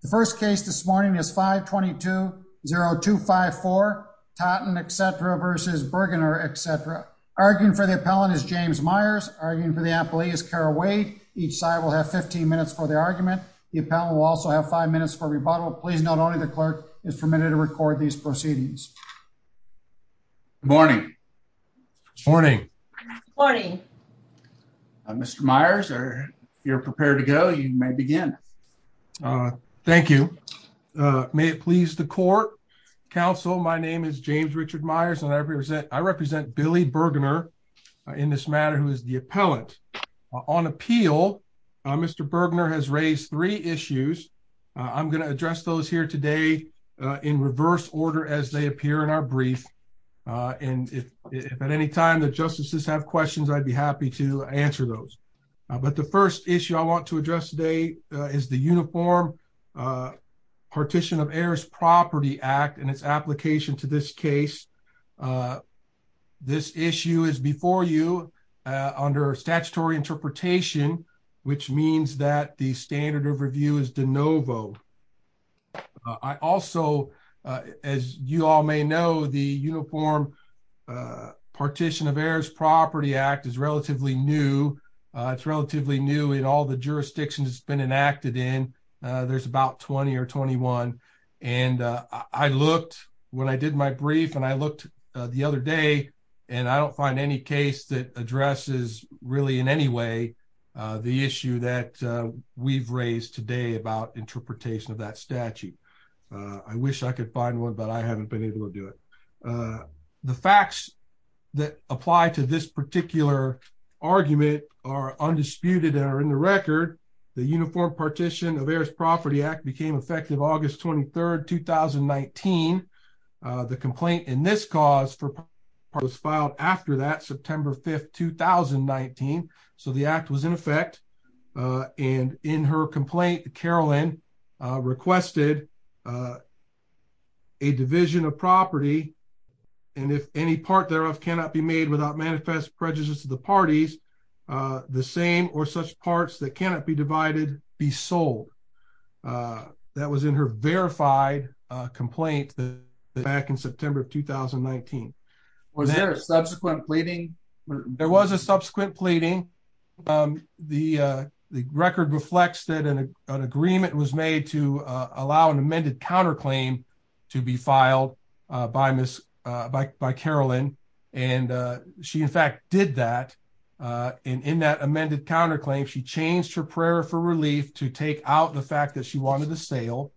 The first case this morning is 522-0254 Totten, etc. v. Burgener, etc. Arguing for the appellant is James Myers. Arguing for the appellee is Kara Wade. Each side will have 15 minutes for the argument. The appellant will also have five minutes for rebuttal. Please note only the clerk is permitted to record these proceedings. Good morning. Good morning. Good morning. Mr. Myers, if you're prepared to go, you may begin. Thank you. May it please the court. Counsel, my name is James Richard Myers, and I represent Billy Burgener in this matter, who is the appellant. On appeal, Mr. Burgener has raised three issues. I'm going to address those here today in reverse order as they appear in our brief, and if at any time the justices have questions, I'd be happy to answer those. But the first issue I want to address today is the Uniform Partition of Heirs' Property Act and its application to this case. This issue is before you under statutory interpretation, which means that the standard of review is de novo. I also, as you all may know, the Uniform Partition of Heirs' Property Act is relatively new. It's relatively new in all the jurisdictions it's been enacted in. There's about 20 or 21, and I looked when I did my brief, and I looked the other day, and I don't find any case that addresses really in any way the issue that we've raised today about interpretation of that statute. I wish I could find one, but I haven't been able to do it. The facts that apply to this particular argument are undisputed and are in the record. The Uniform Partition of Heirs' Property Act became effective August 23rd, 2019. The complaint in this cause was filed after that, September 5th, 2019. So the act was in effect, and in her complaint, Carolyn requested a division of property, and if any part thereof cannot be made without manifest prejudice to the parties, the same or such parts that cannot be divided be sold. That was in her verified complaint back in September of 2019. Was there a subsequent pleading? There was a amended counterclaim to be filed by Carolyn, and she in fact did that. In that amended counterclaim, she changed her prayer for relief to take out the fact that she wanted the sale.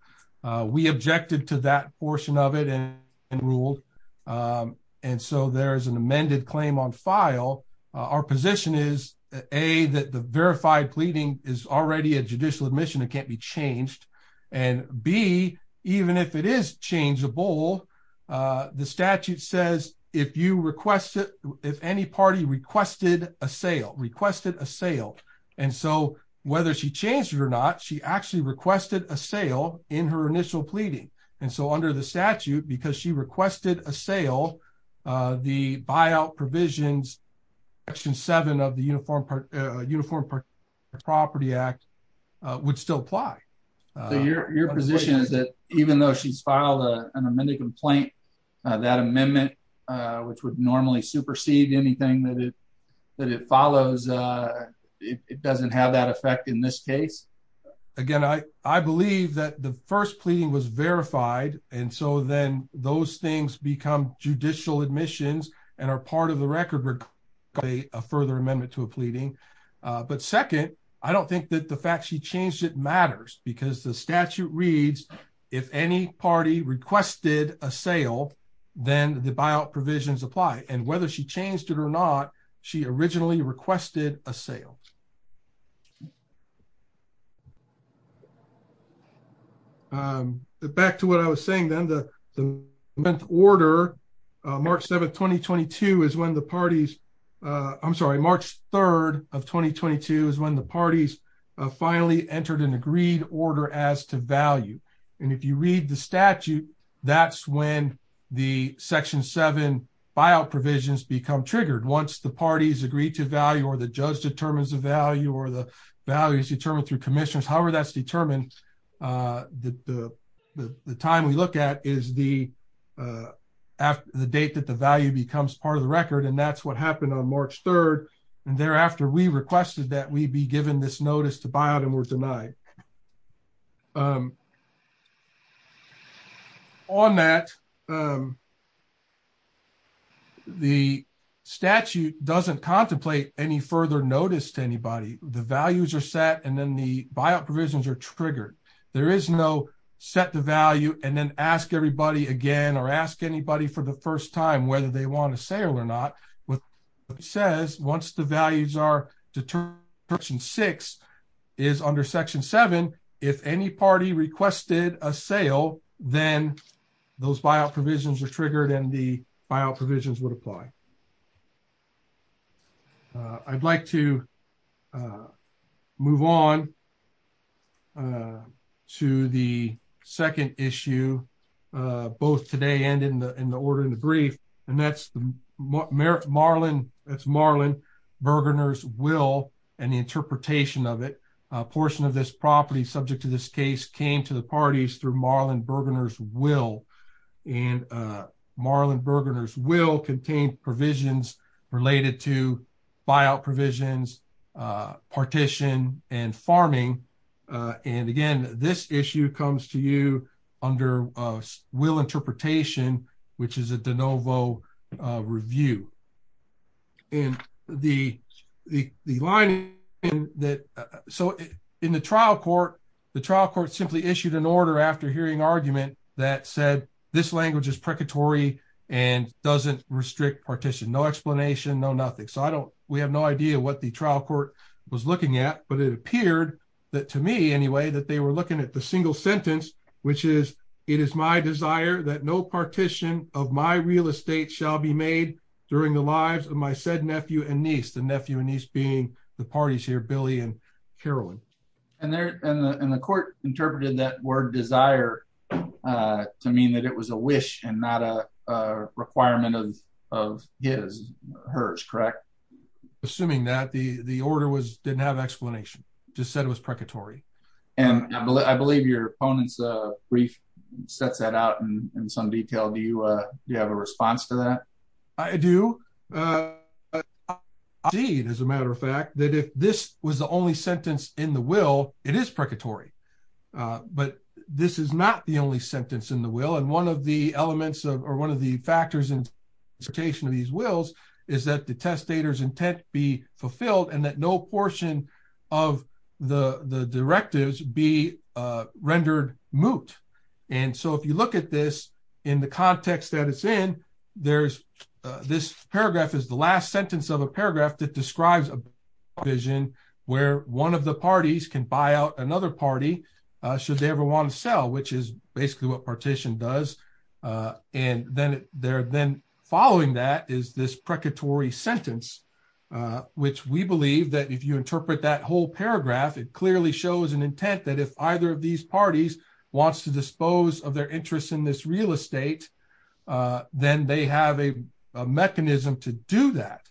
We objected to that portion of it and ruled, and so there's an amended claim on file. Our position is, A, that the verified pleading is already a judicial admission. It can't be changed, and B, even if it is changeable, the statute says if you requested, if any party requested a sale, requested a sale, and so whether she changed it or not, she actually requested a sale in her initial pleading, and so under the statute, because she requested a sale, the buyout provisions, Section 7 of the Uniform Property Act would still apply. Your position is that even though she's filed an amended complaint, that amendment, which would normally supersede anything that it follows, it doesn't have that effect in this case? Again, I believe that the first pleading was verified, and so then those things become judicial admissions and are part of the record for a further amendment to a pleading, but second, I don't think that the fact she changed it matters, because the statute reads if any party requested a sale, then the buyout provisions apply, and whether she changed it or not, she originally requested a sale. Back to what I was saying then, the month order, March 7, 2022 is when the parties, I'm sorry, March 3rd of 2022 is when the parties finally entered an agreed order as to value, and if you read the statute, that's when the Section 7 buyout provisions become triggered. Once the parties agree to value, or the judge determines the value, or the value is determined through commissioners, however that's determined, the time we look at is the date that the value becomes part of the record, and that's what happened on March 3rd, and thereafter we requested that we be given this notice to buyout and were denied. On that, the statute doesn't contemplate any further notice to anybody. The values are set, and then the buyout provisions are triggered. There is no set the value, and then ask everybody again, or ask anybody for the first time whether they want a sale or not, but it says once the values are determined, Section 6 is under Section 7, if any party requested a sale, then those buyout provisions are triggered, and the buyout provisions would apply. I'd like to move on to the second issue, both today and in the order in the brief, and that's Marlon Bergerner's will and the interpretation of it. A portion of this property subject to this case came to the parties through Marlon Bergerner's will, and Marlon Bergerner's will contained provisions related to buyout provisions, partition, and farming, and again this issue comes to you under a will interpretation, which is a de novo review. In the trial court, the trial court simply issued an order after hearing argument that said this language is precatory and doesn't restrict partition, no explanation, no nothing, so we have no idea what the trial court was looking at, but it appeared that to me, anyway, that they were looking at the single sentence, which is, it is my desire that no partition of my real estate shall be made during the lives of my said nephew and niece, the nephew and niece being the parties here, Billy and Carolyn. And the court interpreted that word desire to mean that it was a wish and not a requirement of his, hers, correct? Assuming that, the order didn't have explanation, just said it was brief, sets that out in some detail, do you have a response to that? I do. I see, as a matter of fact, that if this was the only sentence in the will, it is precatory, but this is not the only sentence in the will, and one of the elements of, or one of the factors in interpretation of these wills is that the testator's intent be fulfilled and that no portion of the directives be rendered moot. And so, if you look at this in the context that it's in, there's, this paragraph is the last sentence of a paragraph that describes a vision where one of the parties can buy out another party, should they ever want to sell, which is basically what partition does, and then they're then following that is this precatory sentence, which we believe that you interpret that whole paragraph, it clearly shows an intent that if either of these parties wants to dispose of their interest in this real estate, then they have a mechanism to do that.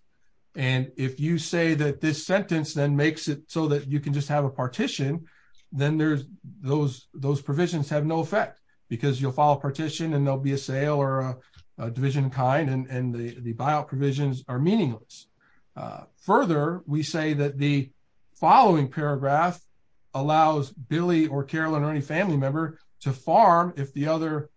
And if you say that this sentence then makes it so that you can just have a partition, then there's, those provisions have no effect, because you'll file a partition and there'll be a sale or a division of kind, and the buyout provisions are meaningless. Further, we say that the following paragraph allows Billy or Carolyn or any family member to farm if the other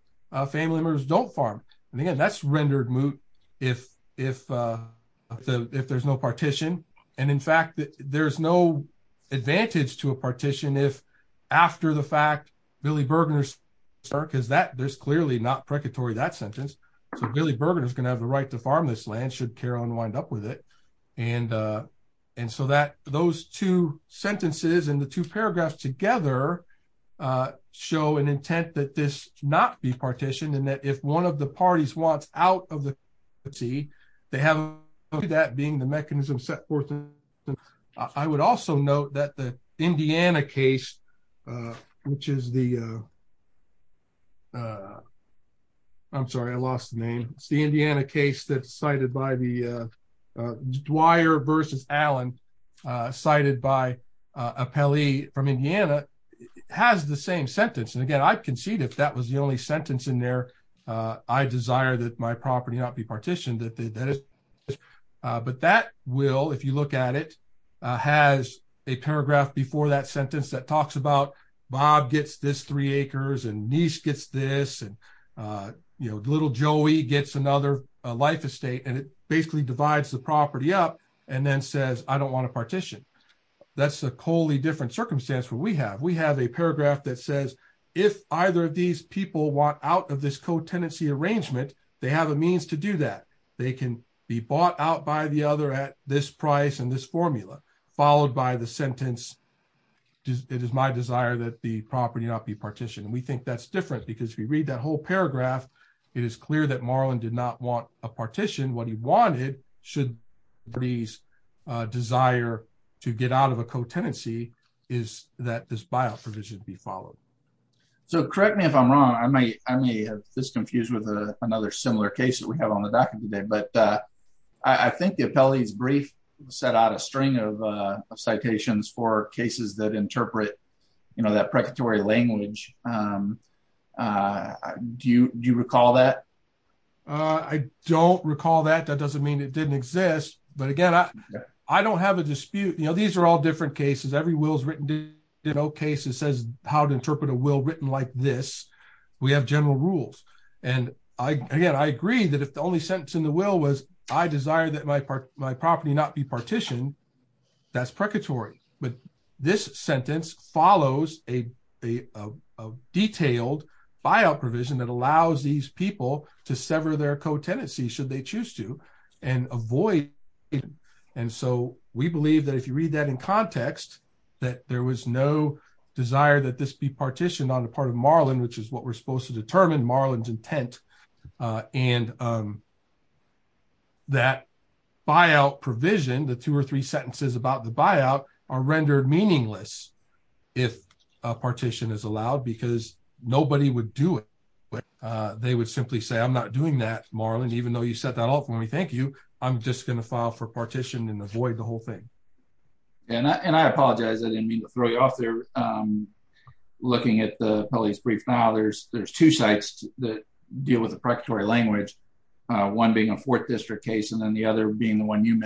family members don't farm. And again, that's rendered moot if there's no partition. And in fact, there's no advantage to a partition if, after the fact, Billy Bergener's, because that, there's clearly not precatory that sentence, so Billy Bergener's the right to farm this land should Carolyn wind up with it. And so that those two sentences and the two paragraphs together show an intent that this not be partitioned and that if one of the parties wants out of the, they have that being the mechanism set forth. I would also note that the Indiana case that's cited by the Dwyer versus Allen, cited by Appelli from Indiana, has the same sentence. And again, I'd concede if that was the only sentence in there, I desire that my property not be partitioned. But that will, if you look at it, has a paragraph before that sentence that talks about Bob gets this three acres and Niece gets this and, you know, little Joey gets another life estate and it basically divides the property up and then says, I don't want to partition. That's a wholly different circumstance where we have, we have a paragraph that says, if either of these people want out of this co-tenancy arrangement, they have a means to do that. They can be bought out by the other at this price and this formula, followed by the sentence, it is my desire that the property not be partitioned. And we think that's different because we read that whole paragraph. It is clear that Marlon did not want a partition. What he wanted should these desire to get out of a co-tenancy is that this bio provision be followed. So correct me if I'm wrong, I may, I may have this confused with another similar case that we have on the docket today, but I think the Appelli's brief set out a string of citations for cases that interpret, you know, that precatory language. Do you, do you recall that? I don't recall that. That doesn't mean it didn't exist, but again, I don't have a dispute. You know, these are all different cases. Every will's written, you know, case it says how to interpret a will written like this. We have general rules. And I, again, I agree that if the only sentence in the will was I desire that my part, my property not be partitioned, that's precatory, but this follows a detailed buyout provision that allows these people to sever their co-tenancy should they choose to and avoid. And so we believe that if you read that in context, that there was no desire that this be partitioned on the part of Marlon, which is what we're supposed to determine Marlon's intent. And that buyout provision, the two or three sentences about the buyout are rendered meaningless. If a partition is allowed, because nobody would do it, but they would simply say, I'm not doing that Marlon, even though you set that off for me, thank you. I'm just going to file for partition and avoid the whole thing. And I, and I apologize. I didn't mean to throw you off there. I'm looking at the police brief. Now there's, there's two sites that deal with the precatory language. One being a fourth district case, and then the other being the one you a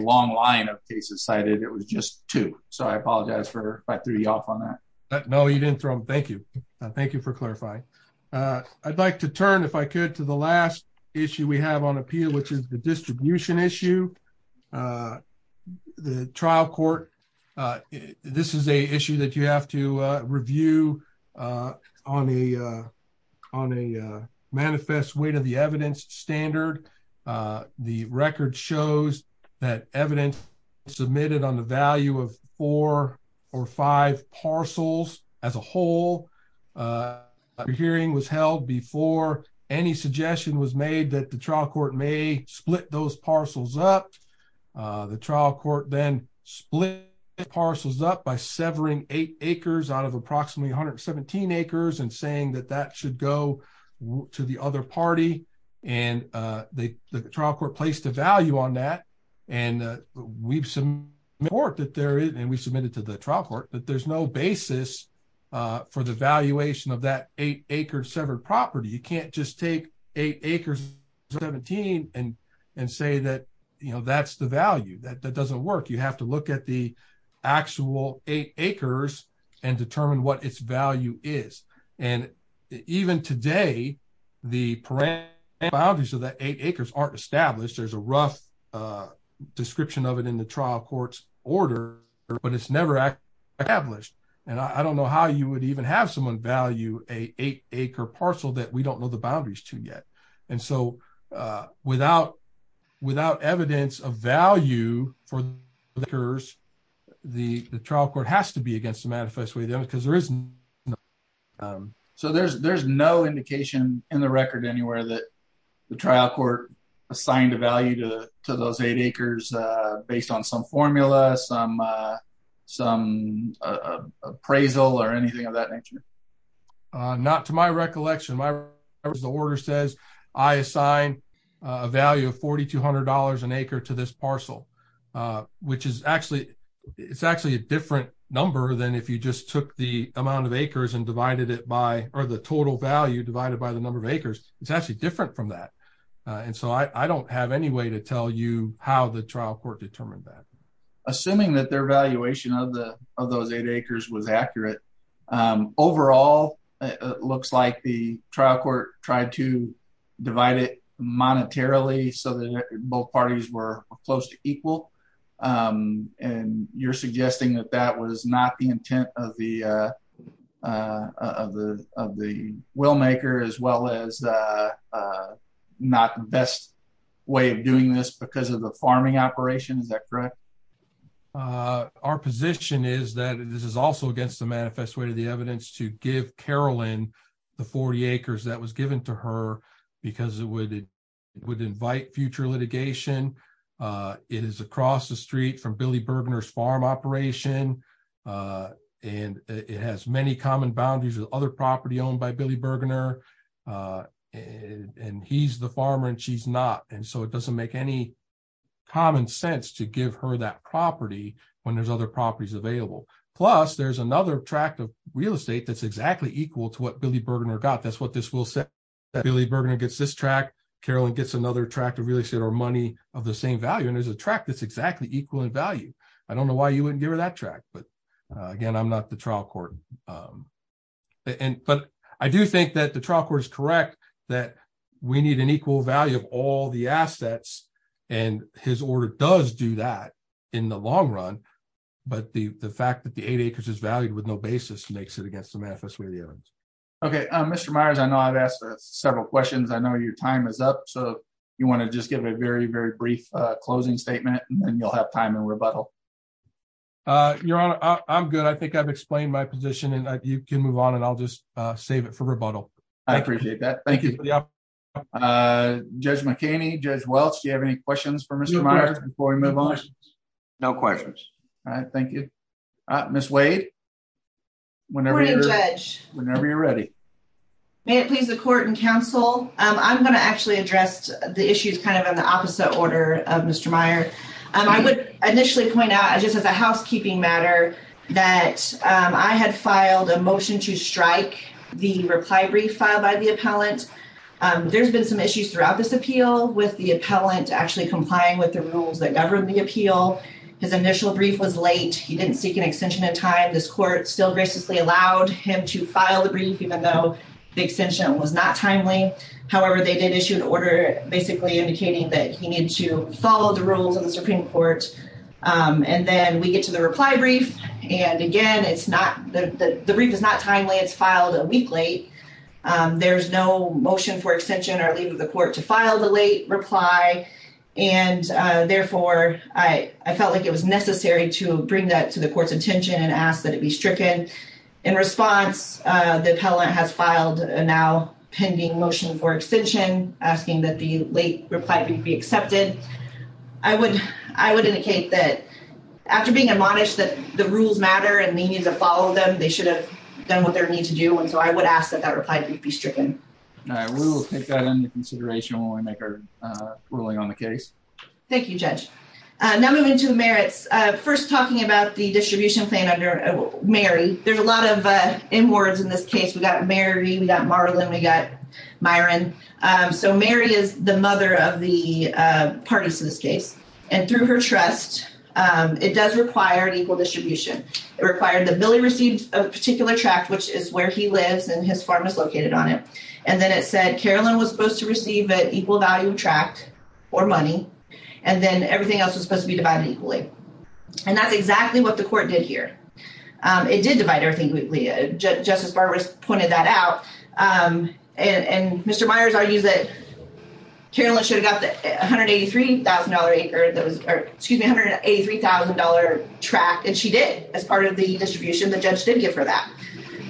long line of cases cited, it was just two. So I apologize for if I threw you off on that. No, you didn't throw him. Thank you. Thank you for clarifying. I'd like to turn if I could to the last issue we have on appeal, which is the distribution issue. The trial court, this is a issue that you have to review on a, on a manifest way to the evidence standard. The record shows that evidence submitted on the value of four or five parcels as a whole hearing was held before any suggestion was made that the trial court may split those parcels up. The trial court then split parcels up by severing eight acres out of approximately 117 acres and saying that that should go to the other party. And they, the trial court placed a value on that. And we've some work that there is, and we submitted to the trial court, but there's no basis for the valuation of that eight acre severed property. You can't just take eight acres, 17 and, and say that, you know, that's the value that that doesn't work. You have to look at the actual eight acres and determine what its value is. And even today, the parameters of that eight acres aren't established. There's a rough description of it in the trial court's order, but it's never actually established. And I don't know how you would even have someone value a eight acre parcel that we don't know the boundaries to yet. And so without, without evidence of value for the acres, the trial court has to be against the manifest way then because there isn't. So there's, there's no indication in the record anywhere that the trial court assigned a value to, to those eight acres based on some formula, some, some appraisal or anything of that nature. Not to my recollection, my order says I assign a value of $4,200 an acre to this parcel, which is actually, it's actually a different number than if you just took the amount of acres and divided it by, or the total value divided by the number of acres, it's actually different from that. And so I don't have any way to tell you how the trial court determined that. Assuming that their valuation of the, of those eight acres was accurate. Overall, it looks like the trial court tried to divide it monetarily so that both parties were close to equal. And you're suggesting that that was not the intent of the, of the, of the operation. Is that correct? Uh, our position is that this is also against the manifest way to the evidence to give Carolyn the 40 acres that was given to her because it would, it would invite future litigation. Uh, it is across the street from Billy Bergener's farm operation. Uh, and it has many common boundaries with other property owned by Billy Bergener. Uh, and he's the farmer and she's not. And so it doesn't make any common sense to give her that property when there's other properties available. Plus there's another track of real estate. That's exactly equal to what Billy Bergener got. That's what this will set that Billy Bergener gets this track. Carolyn gets another track to really sit or money of the same value. And there's a track that's exactly equal in value. I don't know why you wouldn't give her that track, but again, I'm not the trial court. Um, and, but I do think that the trial court is correct that we need an equal value of all the assets and his order does do that in the long run. But the, the fact that the eight acres is valued with no basis makes it against the manifest way of the evidence. Okay. Um, Mr. Myers, I know I've asked several questions. I know your time is up. So you want to just give a very, very brief closing statement and then you'll have time and rebuttal. Uh, your honor, I'm good. I think I've explained my position and you can move on and I'll just save it for rebuttal. I appreciate that. Thank you. Uh, judge McKinney, judge Welch. Do you have any questions for Mr. Myers before we move on? No questions. All right. Thank you. Uh, Ms. Wade, whenever you're ready, may it please the court and counsel. Um, I'm going to actually address the issues kind of in the opposite order of Mr. Meyer. Um, I would initially point out just as a housekeeping matter that, um, I had filed a motion to strike the reply brief filed by the appellant. Um, there's been some issues throughout this appeal with the appellant actually complying with the rules that govern the appeal. His initial brief was late. He didn't seek an extension in time. This court still graciously allowed him to file the brief, even though the extension was not timely. However, they did issue an order basically indicating that he needed to follow the rules of the Supreme Court. Um, and then we get to the reply brief and again, it's not the, the, the brief is not timely. It's filed a week late. Um, there's no motion for extension or leave of the court to file the late reply. And, uh, therefore I, I felt like it was necessary to bring that to the court's attention and ask that it be stricken in response. Uh, the appellant has filed a now pending motion for extension. I would, I would indicate that after being admonished that the rules matter and they need to follow them, they should have done what they need to do. And so I would ask that that reply be stricken. All right. We'll take that into consideration when we make our, uh, ruling on the case. Thank you, judge. Uh, now moving to the merits, uh, first talking about the distribution plan under Mary, there's a lot of, uh, in words in this case, we got Mary, we got Marlon, we got parties in this case. And through her trust, um, it does require an equal distribution. It required that Billy received a particular tract, which is where he lives and his farm is located on it. And then it said, Carolyn was supposed to receive an equal value of tract or money. And then everything else was supposed to be divided equally. And that's exactly what the court did here. Um, it did divide everything quickly. Uh, Justice Barber pointed that out. Um, and, and Mr. Myers argues that Carolyn should have got the $183,000 acre that was, or excuse me, $183,000 tract. And she did as part of the distribution, the judge did get for that.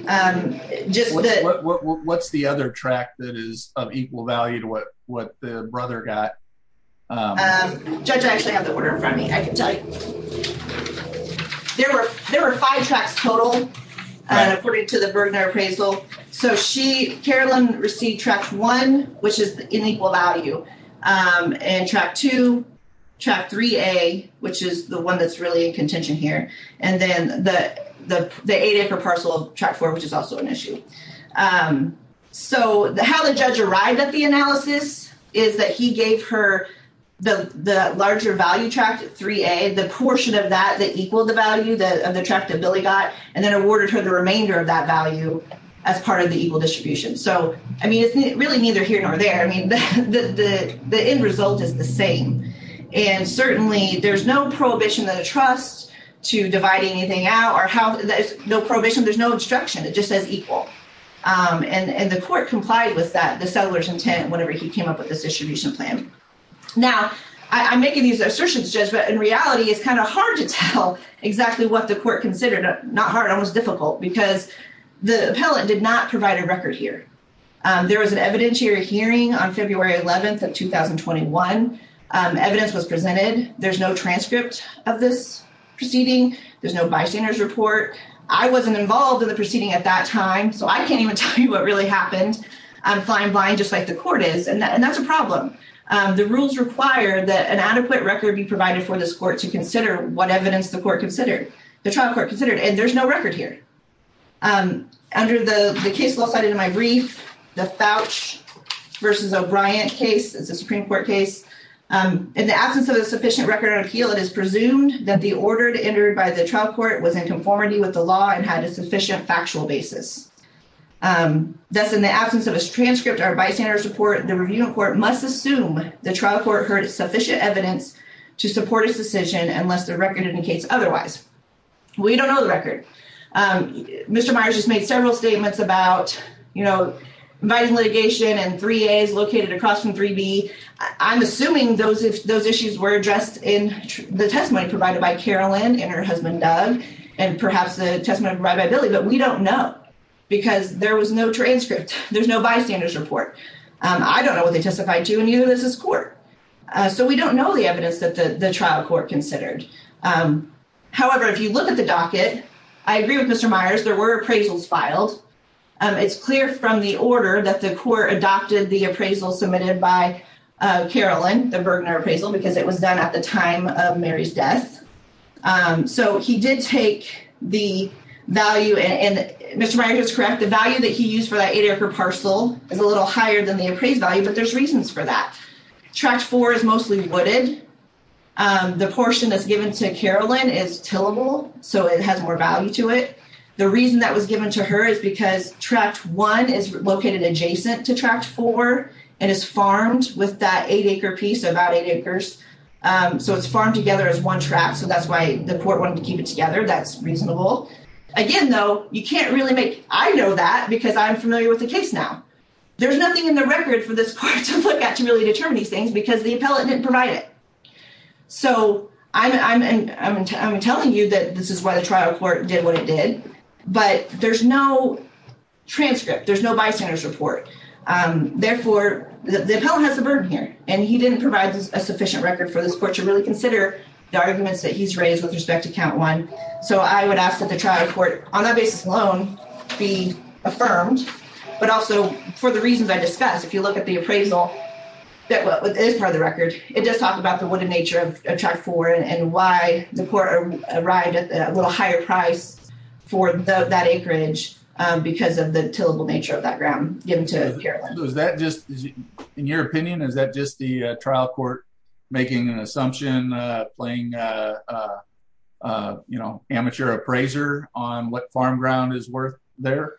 Um, just what's the other track that is of equal value to what, what the brother got? Um, judge, I actually have the order in front of me. I can tell you there were, there were five tracks total, uh, according to the Bergner appraisal. So she, Carolyn received tract one, which is the inequal value, um, and tract two, tract 3A, which is the one that's really in contention here. And then the, the, the eight acre parcel tract four, which is also an issue. Um, so the, how the judge arrived at the analysis is that he gave her the, the larger value tract 3A, the portion of that, that equaled value of the tract that Billy got, and then awarded her the remainder of that value as part of the equal distribution. So, I mean, it's really neither here nor there. I mean, the, the, the end result is the same. And certainly there's no prohibition of the trust to divide anything out or how there's no prohibition. There's no instruction. It just says equal. Um, and, and the court complied with that, the settler's intent, whenever he came up with this distribution plan. Now I'm making these assertions, Judge, but in reality, it's kind of hard to tell exactly what the court considered, not hard, almost difficult because the appellate did not provide a record here. Um, there was an evidentiary hearing on February 11th of 2021. Um, evidence was presented. There's no transcript of this proceeding. There's no bystanders report. I wasn't involved in the proceeding at that time. So I can't even tell you what really happened. I'm flying blind, just like the court is, and that, and that's a problem. Um, the rules require that an adequate record be provided for this court to consider what evidence the court considered, the trial court considered, and there's no record here. Um, under the case law cited in my brief, the Fouch versus O'Brien case is a Supreme Court case. Um, in the absence of a sufficient record on appeal, it is presumed that the order entered by the trial court was in conformity with the law and had a sufficient basis. Um, thus in the absence of a transcript or bystander support, the review court must assume the trial court heard sufficient evidence to support its decision unless the record indicates otherwise. We don't know the record. Um, Mr. Myers just made several statements about, you know, inviting litigation and three A's located across from three B. I'm assuming those, those issues were addressed in the testimony provided by Carolyn and her husband, Doug, and perhaps the testimony provided by Billy, but we don't know because there was no transcript. There's no bystander's report. Um, I don't know what they testified to, and neither does this court. Uh, so we don't know the evidence that the, the trial court considered. Um, however, if you look at the docket, I agree with Mr. Myers, there were appraisals filed. Um, it's clear from the order that the court adopted the appraisal submitted by, uh, Carolyn, the Bergner appraisal, because it was done at the time of Mary's death. Um, so he did take the value, and Mr. Myers is correct. The value that he used for that eight acre parcel is a little higher than the appraised value, but there's reasons for that. Tract four is mostly wooded. Um, the portion that's given to Carolyn is tillable, so it has more value to it. The reason that was given to her is because tract one is located adjacent to tract four and is farmed with that eight acre piece, so about eight acres. Um, so it's farmed together as one tract, so that's why the court wanted to keep it together. That's reasonable. Again, though, you can't really make, I know that because I'm familiar with the case now. There's nothing in the record for this court to look at to really determine these things because the appellate didn't provide it. So I'm, I'm, I'm, I'm telling you that this is why the trial court did what it did, but there's no transcript. There's no bystander's report. Um, therefore, the appellant has a burden here, and he didn't provide a sufficient record for this court to really consider the arguments that he's raised with respect to count one. So I would ask that the trial court on that basis alone be affirmed, but also for the reasons I discussed, if you look at the appraisal that is part of the record, it does talk about the wooded nature of tract four and why the court arrived at a little higher price for that acreage, um, because of the tillable nature of that ground given to Carolyn. Is that just, in your opinion, is that just the trial court making an assumption, uh, playing, uh, uh, uh, you know, amateur appraiser on what farm ground is worth there?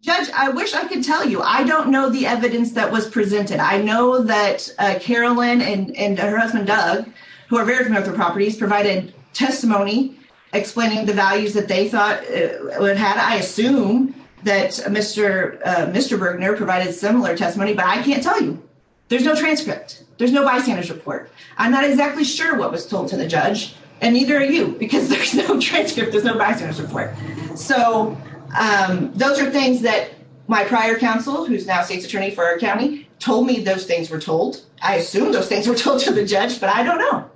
Judge, I wish I could tell you. I don't know the evidence that was presented. I know that, uh, Carolyn and, and her husband, Doug, who are very familiar with the properties, provided testimony explaining the values that they thought, uh, would have had. I assume that Mr., uh, Mr. Bergner provided similar testimony, but I can't tell you. There's no transcript. There's no bystander's report. I'm not exactly sure what was told to the judge, and neither are you, because there's no transcript. There's no bystander's report. So, um, those are things that my prior counsel, who's now state's attorney for our county, told me those things were told. I assume those things were told to the judge, but I don't know.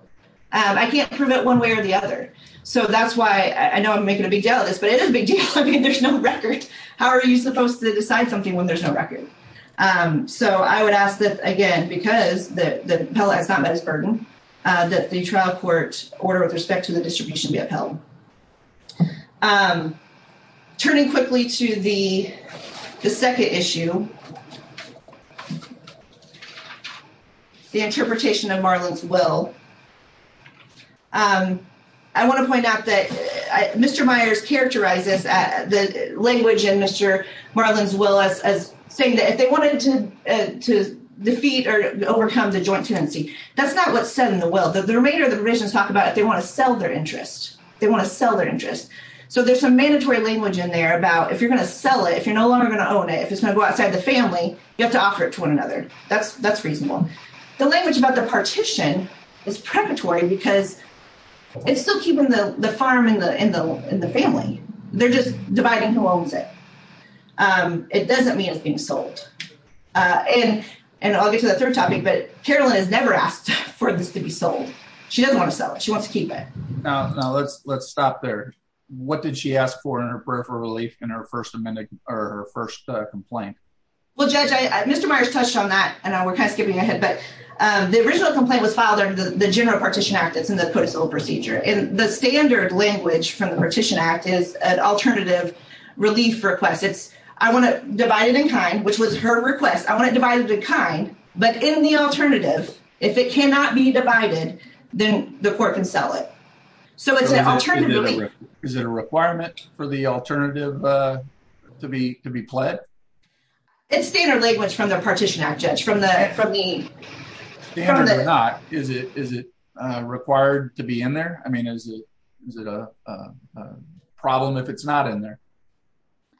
I can't prove it one way or the other. So, that's why, I know I'm making a big deal of this, but it is a big deal. I mean, there's no record. How are you supposed to decide something when there's no record? Um, so I would ask that, again, because the, the appellate has not met his burden, uh, that the trial court order with respect to the distribution be upheld. Um, turning quickly to the, the second issue, the interpretation of Marlin's will, um, I want to point out that, uh, Mr. Myers characterizes, uh, the language in Mr. Marlin's will as, as saying that if they wanted to, uh, to defeat or overcome the joint tenancy, that's not what's said in the will. The remainder of talk about it. They want to sell their interest. They want to sell their interest. So, there's some mandatory language in there about if you're going to sell it, if you're no longer going to own it, if it's going to go outside the family, you have to offer it to one another. That's, that's reasonable. The language about the partition is preparatory because it's still keeping the farm in the, in the, in the family. They're just dividing who owns it. Um, it doesn't mean it's being sold. Uh, and, and I'll get to the third topic, but Carolyn has never asked for this to be sold. She doesn't want to sell it. She wants to keep it. No, no, let's, let's stop there. What did she ask for in her prayer for relief in her first amendment or her first complaint? Well, judge, I, Mr. Myers touched on that and we're kind of skipping ahead, but, um, the original complaint was filed under the general partition act. It's in the code of civil procedure and the standard language from the partition act is an alternative relief request. It's, I want to divide it in kind, which was her request. I want to divide it in kind, but in the alternative, if it cannot be divided, then the court can sell it. So it's an alternative. Is it a requirement for the alternative, uh, to be, to be pled? It's standard language from the partition act judge, from the, from the, standard or not, is it, is it, uh, required to be in there? I mean, is it, is it a, uh, a problem if it's not in there?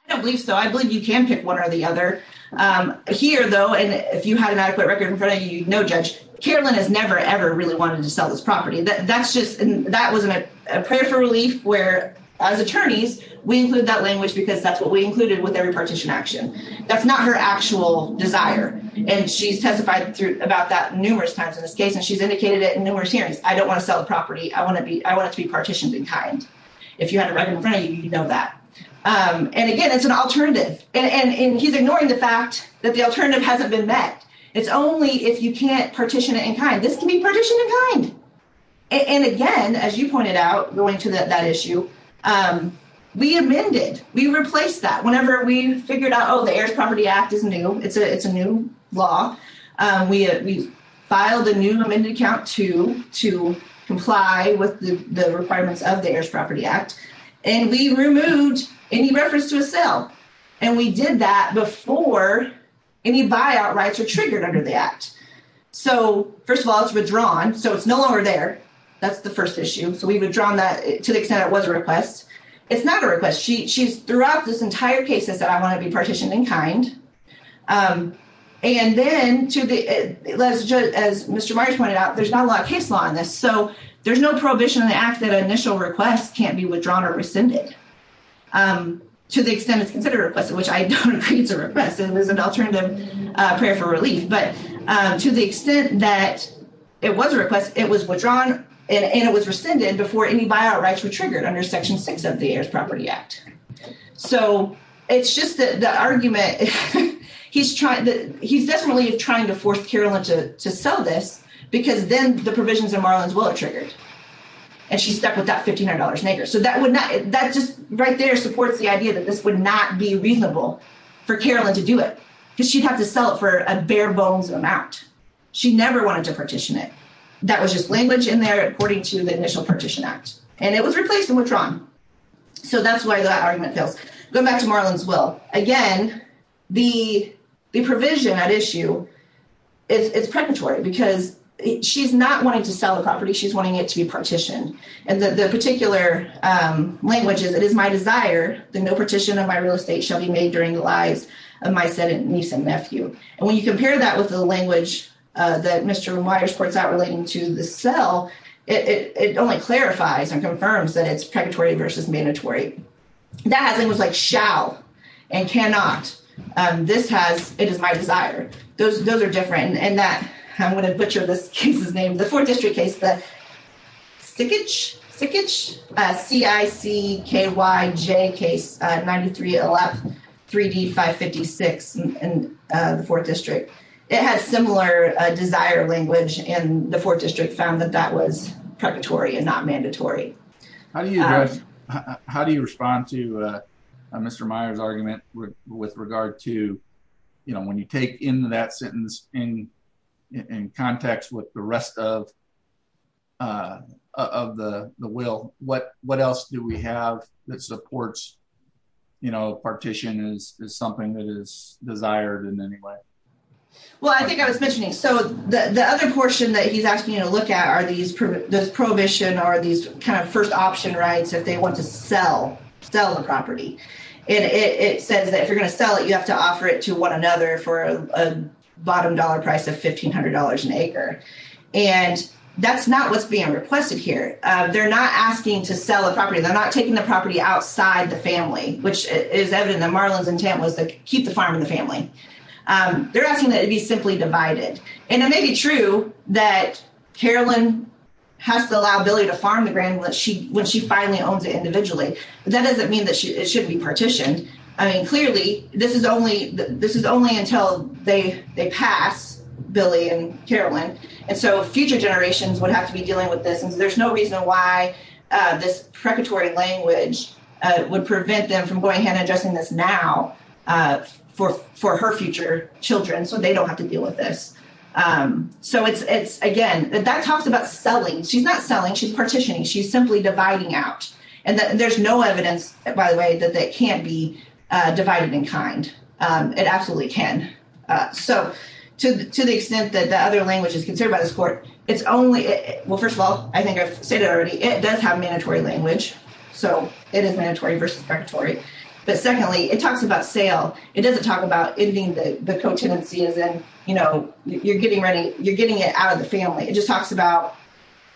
I don't believe so. I believe you can pick one or the other. Um, here though, and if you had an adequate record in front of you, no judge, Carolyn has never, ever really wanted to sell this property. That's just, that wasn't a prayer for relief where as attorneys, we include that language because that's what we included with every partition action. That's not her actual desire. And she's testified about that numerous times in this case, and she's indicated it in numerous hearings. I don't want to sell the property. I want to be, I want it to be partitioned in kind. If you had a record in front of you, you know that. Um, and again, it's an alternative and, and, and he's ignoring the fact that the alternative hasn't been met. It's only if you can't partition it in kind, this can be partitioned in kind. And again, as you pointed out, going to that issue, um, we amended, we replaced that whenever we figured out, oh, the heirs property act is new. It's a, it's a new law. Um, we, uh, we filed a new amended account to, to comply with the requirements of the heirs property act. And we removed any reference to a sale. And we did that before any buyout rights are triggered under the act. So first of all, it's withdrawn. So it's no longer there. That's the first issue. So we've withdrawn that to the extent it was a request. It's not a request. She, she's throughout this entire case has said, I want to be partitioned in kind. Um, and then to the, as Mr. Myers pointed out, there's not a lot of case law on this. So there's no prohibition on the act that initial requests can't be withdrawn or rescinded. Um, to the extent it's considered a request, which I don't agree it's a request. It was an alternative, uh, prayer for relief, but, um, to the extent that it was a request, it was withdrawn and it was rescinded before any buyout rights were triggered under section six of the heirs property act. So it's just that the argument he's trying to, he's definitely trying to force to sell this because then the provisions in Marlin's will are triggered and she stuck with that $1,500 neighbor. So that would not, that just right there supports the idea that this would not be reasonable for Carolyn to do it because she'd have to sell it for a bare bones amount. She never wanted to partition it. That was just language in there according to the initial partition act, and it was replaced and withdrawn. So that's why that argument fails. Going back to Marlin's will again, the, the provision at issue it's, it's predatory because she's not wanting to sell the property. She's wanting it to be partitioned. And the particular, um, language is, it is my desire, the no partition of my real estate shall be made during the lives of my son and niece and nephew. And when you compare that with the language, uh, that Mr. Myers points out relating to the cell, it only clarifies and confirms that it's predatory versus mandatory. That has language like shall and cannot. Um, this has, it is my desire. Those, those are different. And that I'm going to butcher this case's name, the fourth district case, the stickage, stickage, uh, C I C K Y J case, uh, 93 L F 3 D 5 56. And, uh, the fourth district, it has similar, uh, desire language. And the fourth district found that that was predatory and not mandatory. How do you, how do you respond to, uh, uh, Mr. Myers argument with regard to, you know, when you take into that sentence in, in context with the rest of, uh, of the, the will, what, what else do we have that supports, you know, partition is something that is desired in any way? Well, I think I was mentioning. So the other portion that he's asking to look at are these, this prohibition or these kind of first option rights, if they want to sell, sell the property. And it says that if you're going to sell it, you have to offer it to one another for a bottom dollar price of $1,500 an acre. And that's not what's being requested here. They're not asking to sell a property. They're not taking the property outside the family, which is evident that Marlon's intent was to keep the farm in the family. Um, they're asking that they be simply divided. And it may be true that Carolyn has to allow Billy to farm the grand when she, when she finally owns it individually, but that doesn't mean that it shouldn't be partitioned. I mean, clearly this is only, this is only until they, they pass Billy and Carolyn. And so future generations would have to be dealing with this. And there's no reason why, uh, this predatory language, uh, would prevent them from going ahead and now, uh, for, for her future children. So they don't have to deal with this. Um, so it's, it's again, that talks about selling. She's not selling. She's partitioning. She's simply dividing out. And there's no evidence by the way, that they can't be, uh, divided in kind. Um, it absolutely can. Uh, so to, to the extent that the other language is considered by this court, it's only, well, first of all, I think I've said it already. It does have mandatory language. So it is mandatory versus predatory. But secondly, it talks about sale. It doesn't talk about ending the co-tenancy as in, you know, you're getting ready, you're getting it out of the family. It just talks about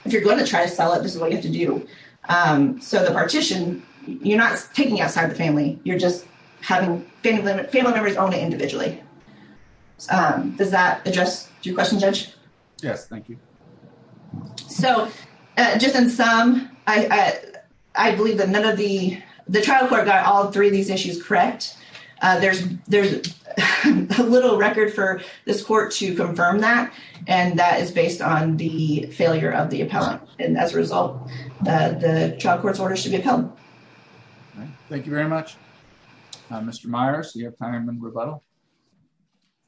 if you're going to try to sell it, this is what you have to do. Um, so the partition, you're not taking outside the family. You're just having family members own it individually. Um, does that address your question judge? Yes. Thank you. So just in sum, I, I, I believe that none of the, the trial court got all three of these issues, correct. Uh, there's, there's a little record for this court to confirm that. And that is based on the failure of the appellant. And as a result, uh, the child court's orders should be appealed. All right. Thank you very much. Uh, Mr. Myers, do you have time and rebuttal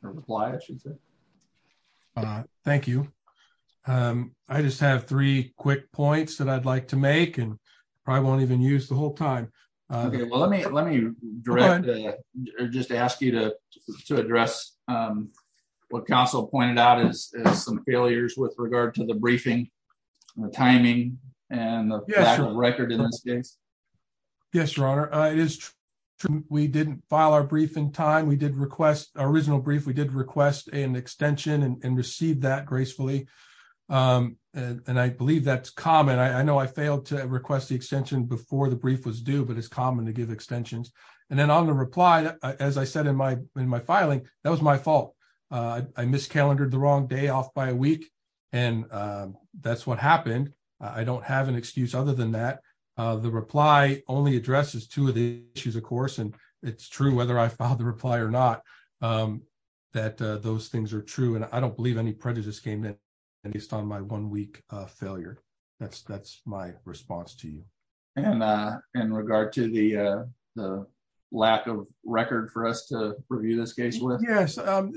or reply? I should say. Uh, thank you. Um, I just have three quick points that I'd like to make and probably won't even use the whole time. Okay. Well, let me, let me direct or just ask you to, to address, um, what council pointed out is some failures with regard to the briefing, the timing and the record in this case. Yes, Your Honor. Uh, it is true. We didn't file our brief in time. We did request our original brief. We did request an extension and received that gracefully. Um, and I believe that's common. I know I failed to request the extension before the brief was due, but it's common to give extensions. And then on the reply, as I said in my, in my filing, that was my fault. Uh, I miscalendered the wrong day off by a week. And, um, that's what happened. I don't have an excuse other than that. Uh, the reply only addresses two of the issues, of course, and it's true whether I filed the reply or not, um, that, uh, those things are true. And I don't believe any prejudice came in based on my one week, uh, failure. That's, that's my response to you. And, uh, in regard to the, uh, the lack of record for us to review this case with. Yes. Um,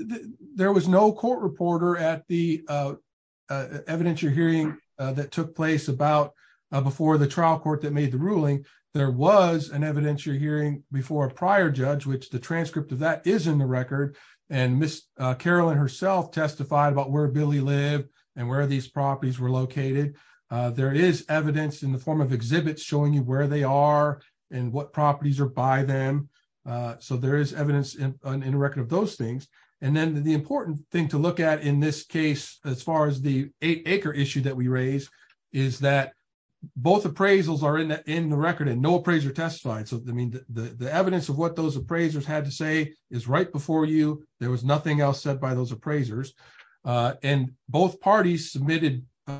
there was no court reporter at the, uh, uh, evidence you're hearing, uh, that took place about, uh, before the trial court that made the ruling. There was an evidence you're hearing before a prior judge, which the transcript of that is in the record and miss, uh, Carolyn herself testified about where Billy lived and where these properties were located. Uh, there is evidence in the form of exhibits showing you where they are and what properties are by them. Uh, so there is evidence in, in the record of those things. And then the important thing to look at in this case, as far as the eight acre issue that we raised is that both appraisals are in the, in the record and no appraiser testified. So, I mean, the, the, the evidence of what those appraisers had to say is right before you, there was nothing else said by those appraisers. Uh, and both parties submitted, uh,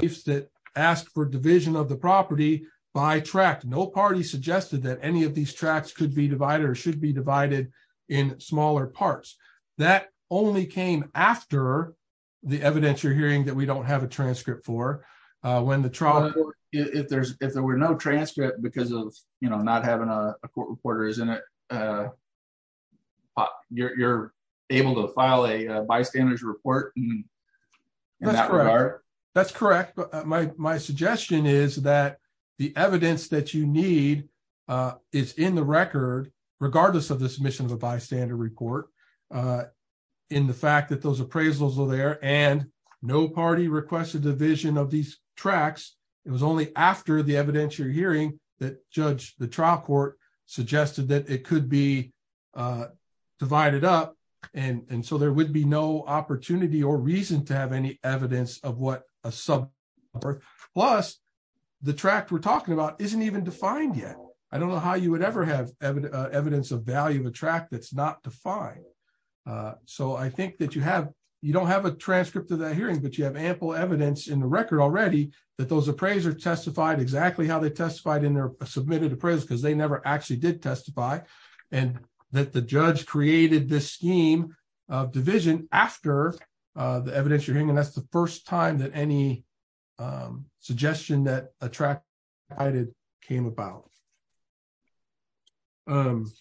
if that asked for division of the property by track, no party suggested that any of these tracks could be divided or should be divided in smaller parts that only came after the evidence you're hearing that we don't have a transcript for, uh, when the trial, if there's, if there were no transcript because of, you know, not having a court reporter, isn't it? Uh, you're, you're able to file a bystander's report. That's correct. But my, my suggestion is that the evidence that you need, uh, is in the record, regardless of this mission of a bystander report, uh, in the fact that those requested the vision of these tracks. It was only after the evidentiary hearing that judge, the trial court suggested that it could be, uh, divided up. And so there would be no opportunity or reason to have any evidence of what a sub plus the track we're talking about. Isn't even defined yet. I don't know how you would ever have evidence of value attract. That's not defined. Uh, so I that you have, you don't have a transcript of that hearing, but you have ample evidence in the record already that those appraisers testified exactly how they testified in their submitted appraisal because they never actually did testify and that the judge created this scheme of division after, uh, the evidence you're hearing. And that's the first time that any, um, suggestion that I did came about. Um,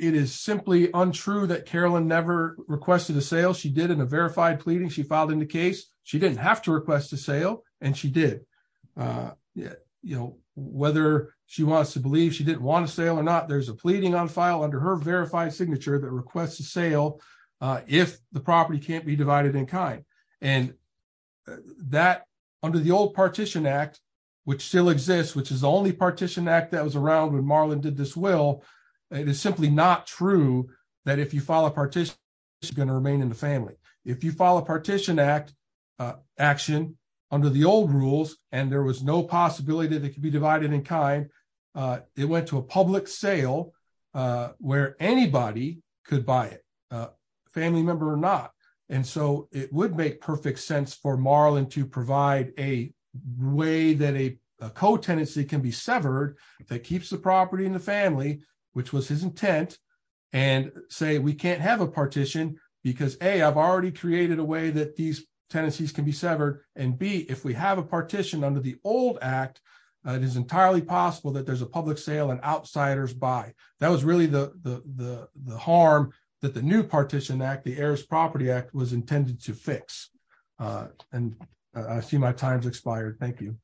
it is simply untrue that Carolyn never requested a sale. She did in a verified pleading. She filed in the case. She didn't have to request a sale and she did. Uh, yeah, you know, whether she wants to believe she didn't want to sail or not, there's a pleading on file under her verified signature that requests a sale. Uh, if the property can't be divided in kind and that under the old partition act, which still exists, which is the only partition act that was around when Marlon did this will, it is simply not true that if you file a partition, it's going to remain in the family. If you file a partition act, uh, action under the old rules and there was no possibility that it could be divided in kind, uh, it went to a public sale, uh, where anybody could buy it, uh, family member or not. And so it would make perfect sense for Marlon to provide a way that a co-tenancy can be severed that keeps the property in the family, which was his intent and say, we can't have a partition because a, I've already created a way that these tenancies can be severed. And B, if we have a partition under the old act, uh, it is entirely possible that there's a public sale and outsiders buy. That was really the, the, the, the harm that the new partition act, the heirs property act was intended to fix. Uh, and, uh, I see my time's expired. Thank you.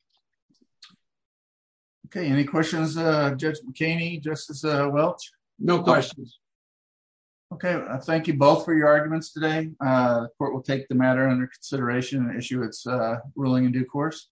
Okay. Any questions, uh, judge McCain, justice, uh, well, no questions. Okay. Thank you both for your arguments today. Uh, court will take the matter under consideration and issue. It's a ruling in due course.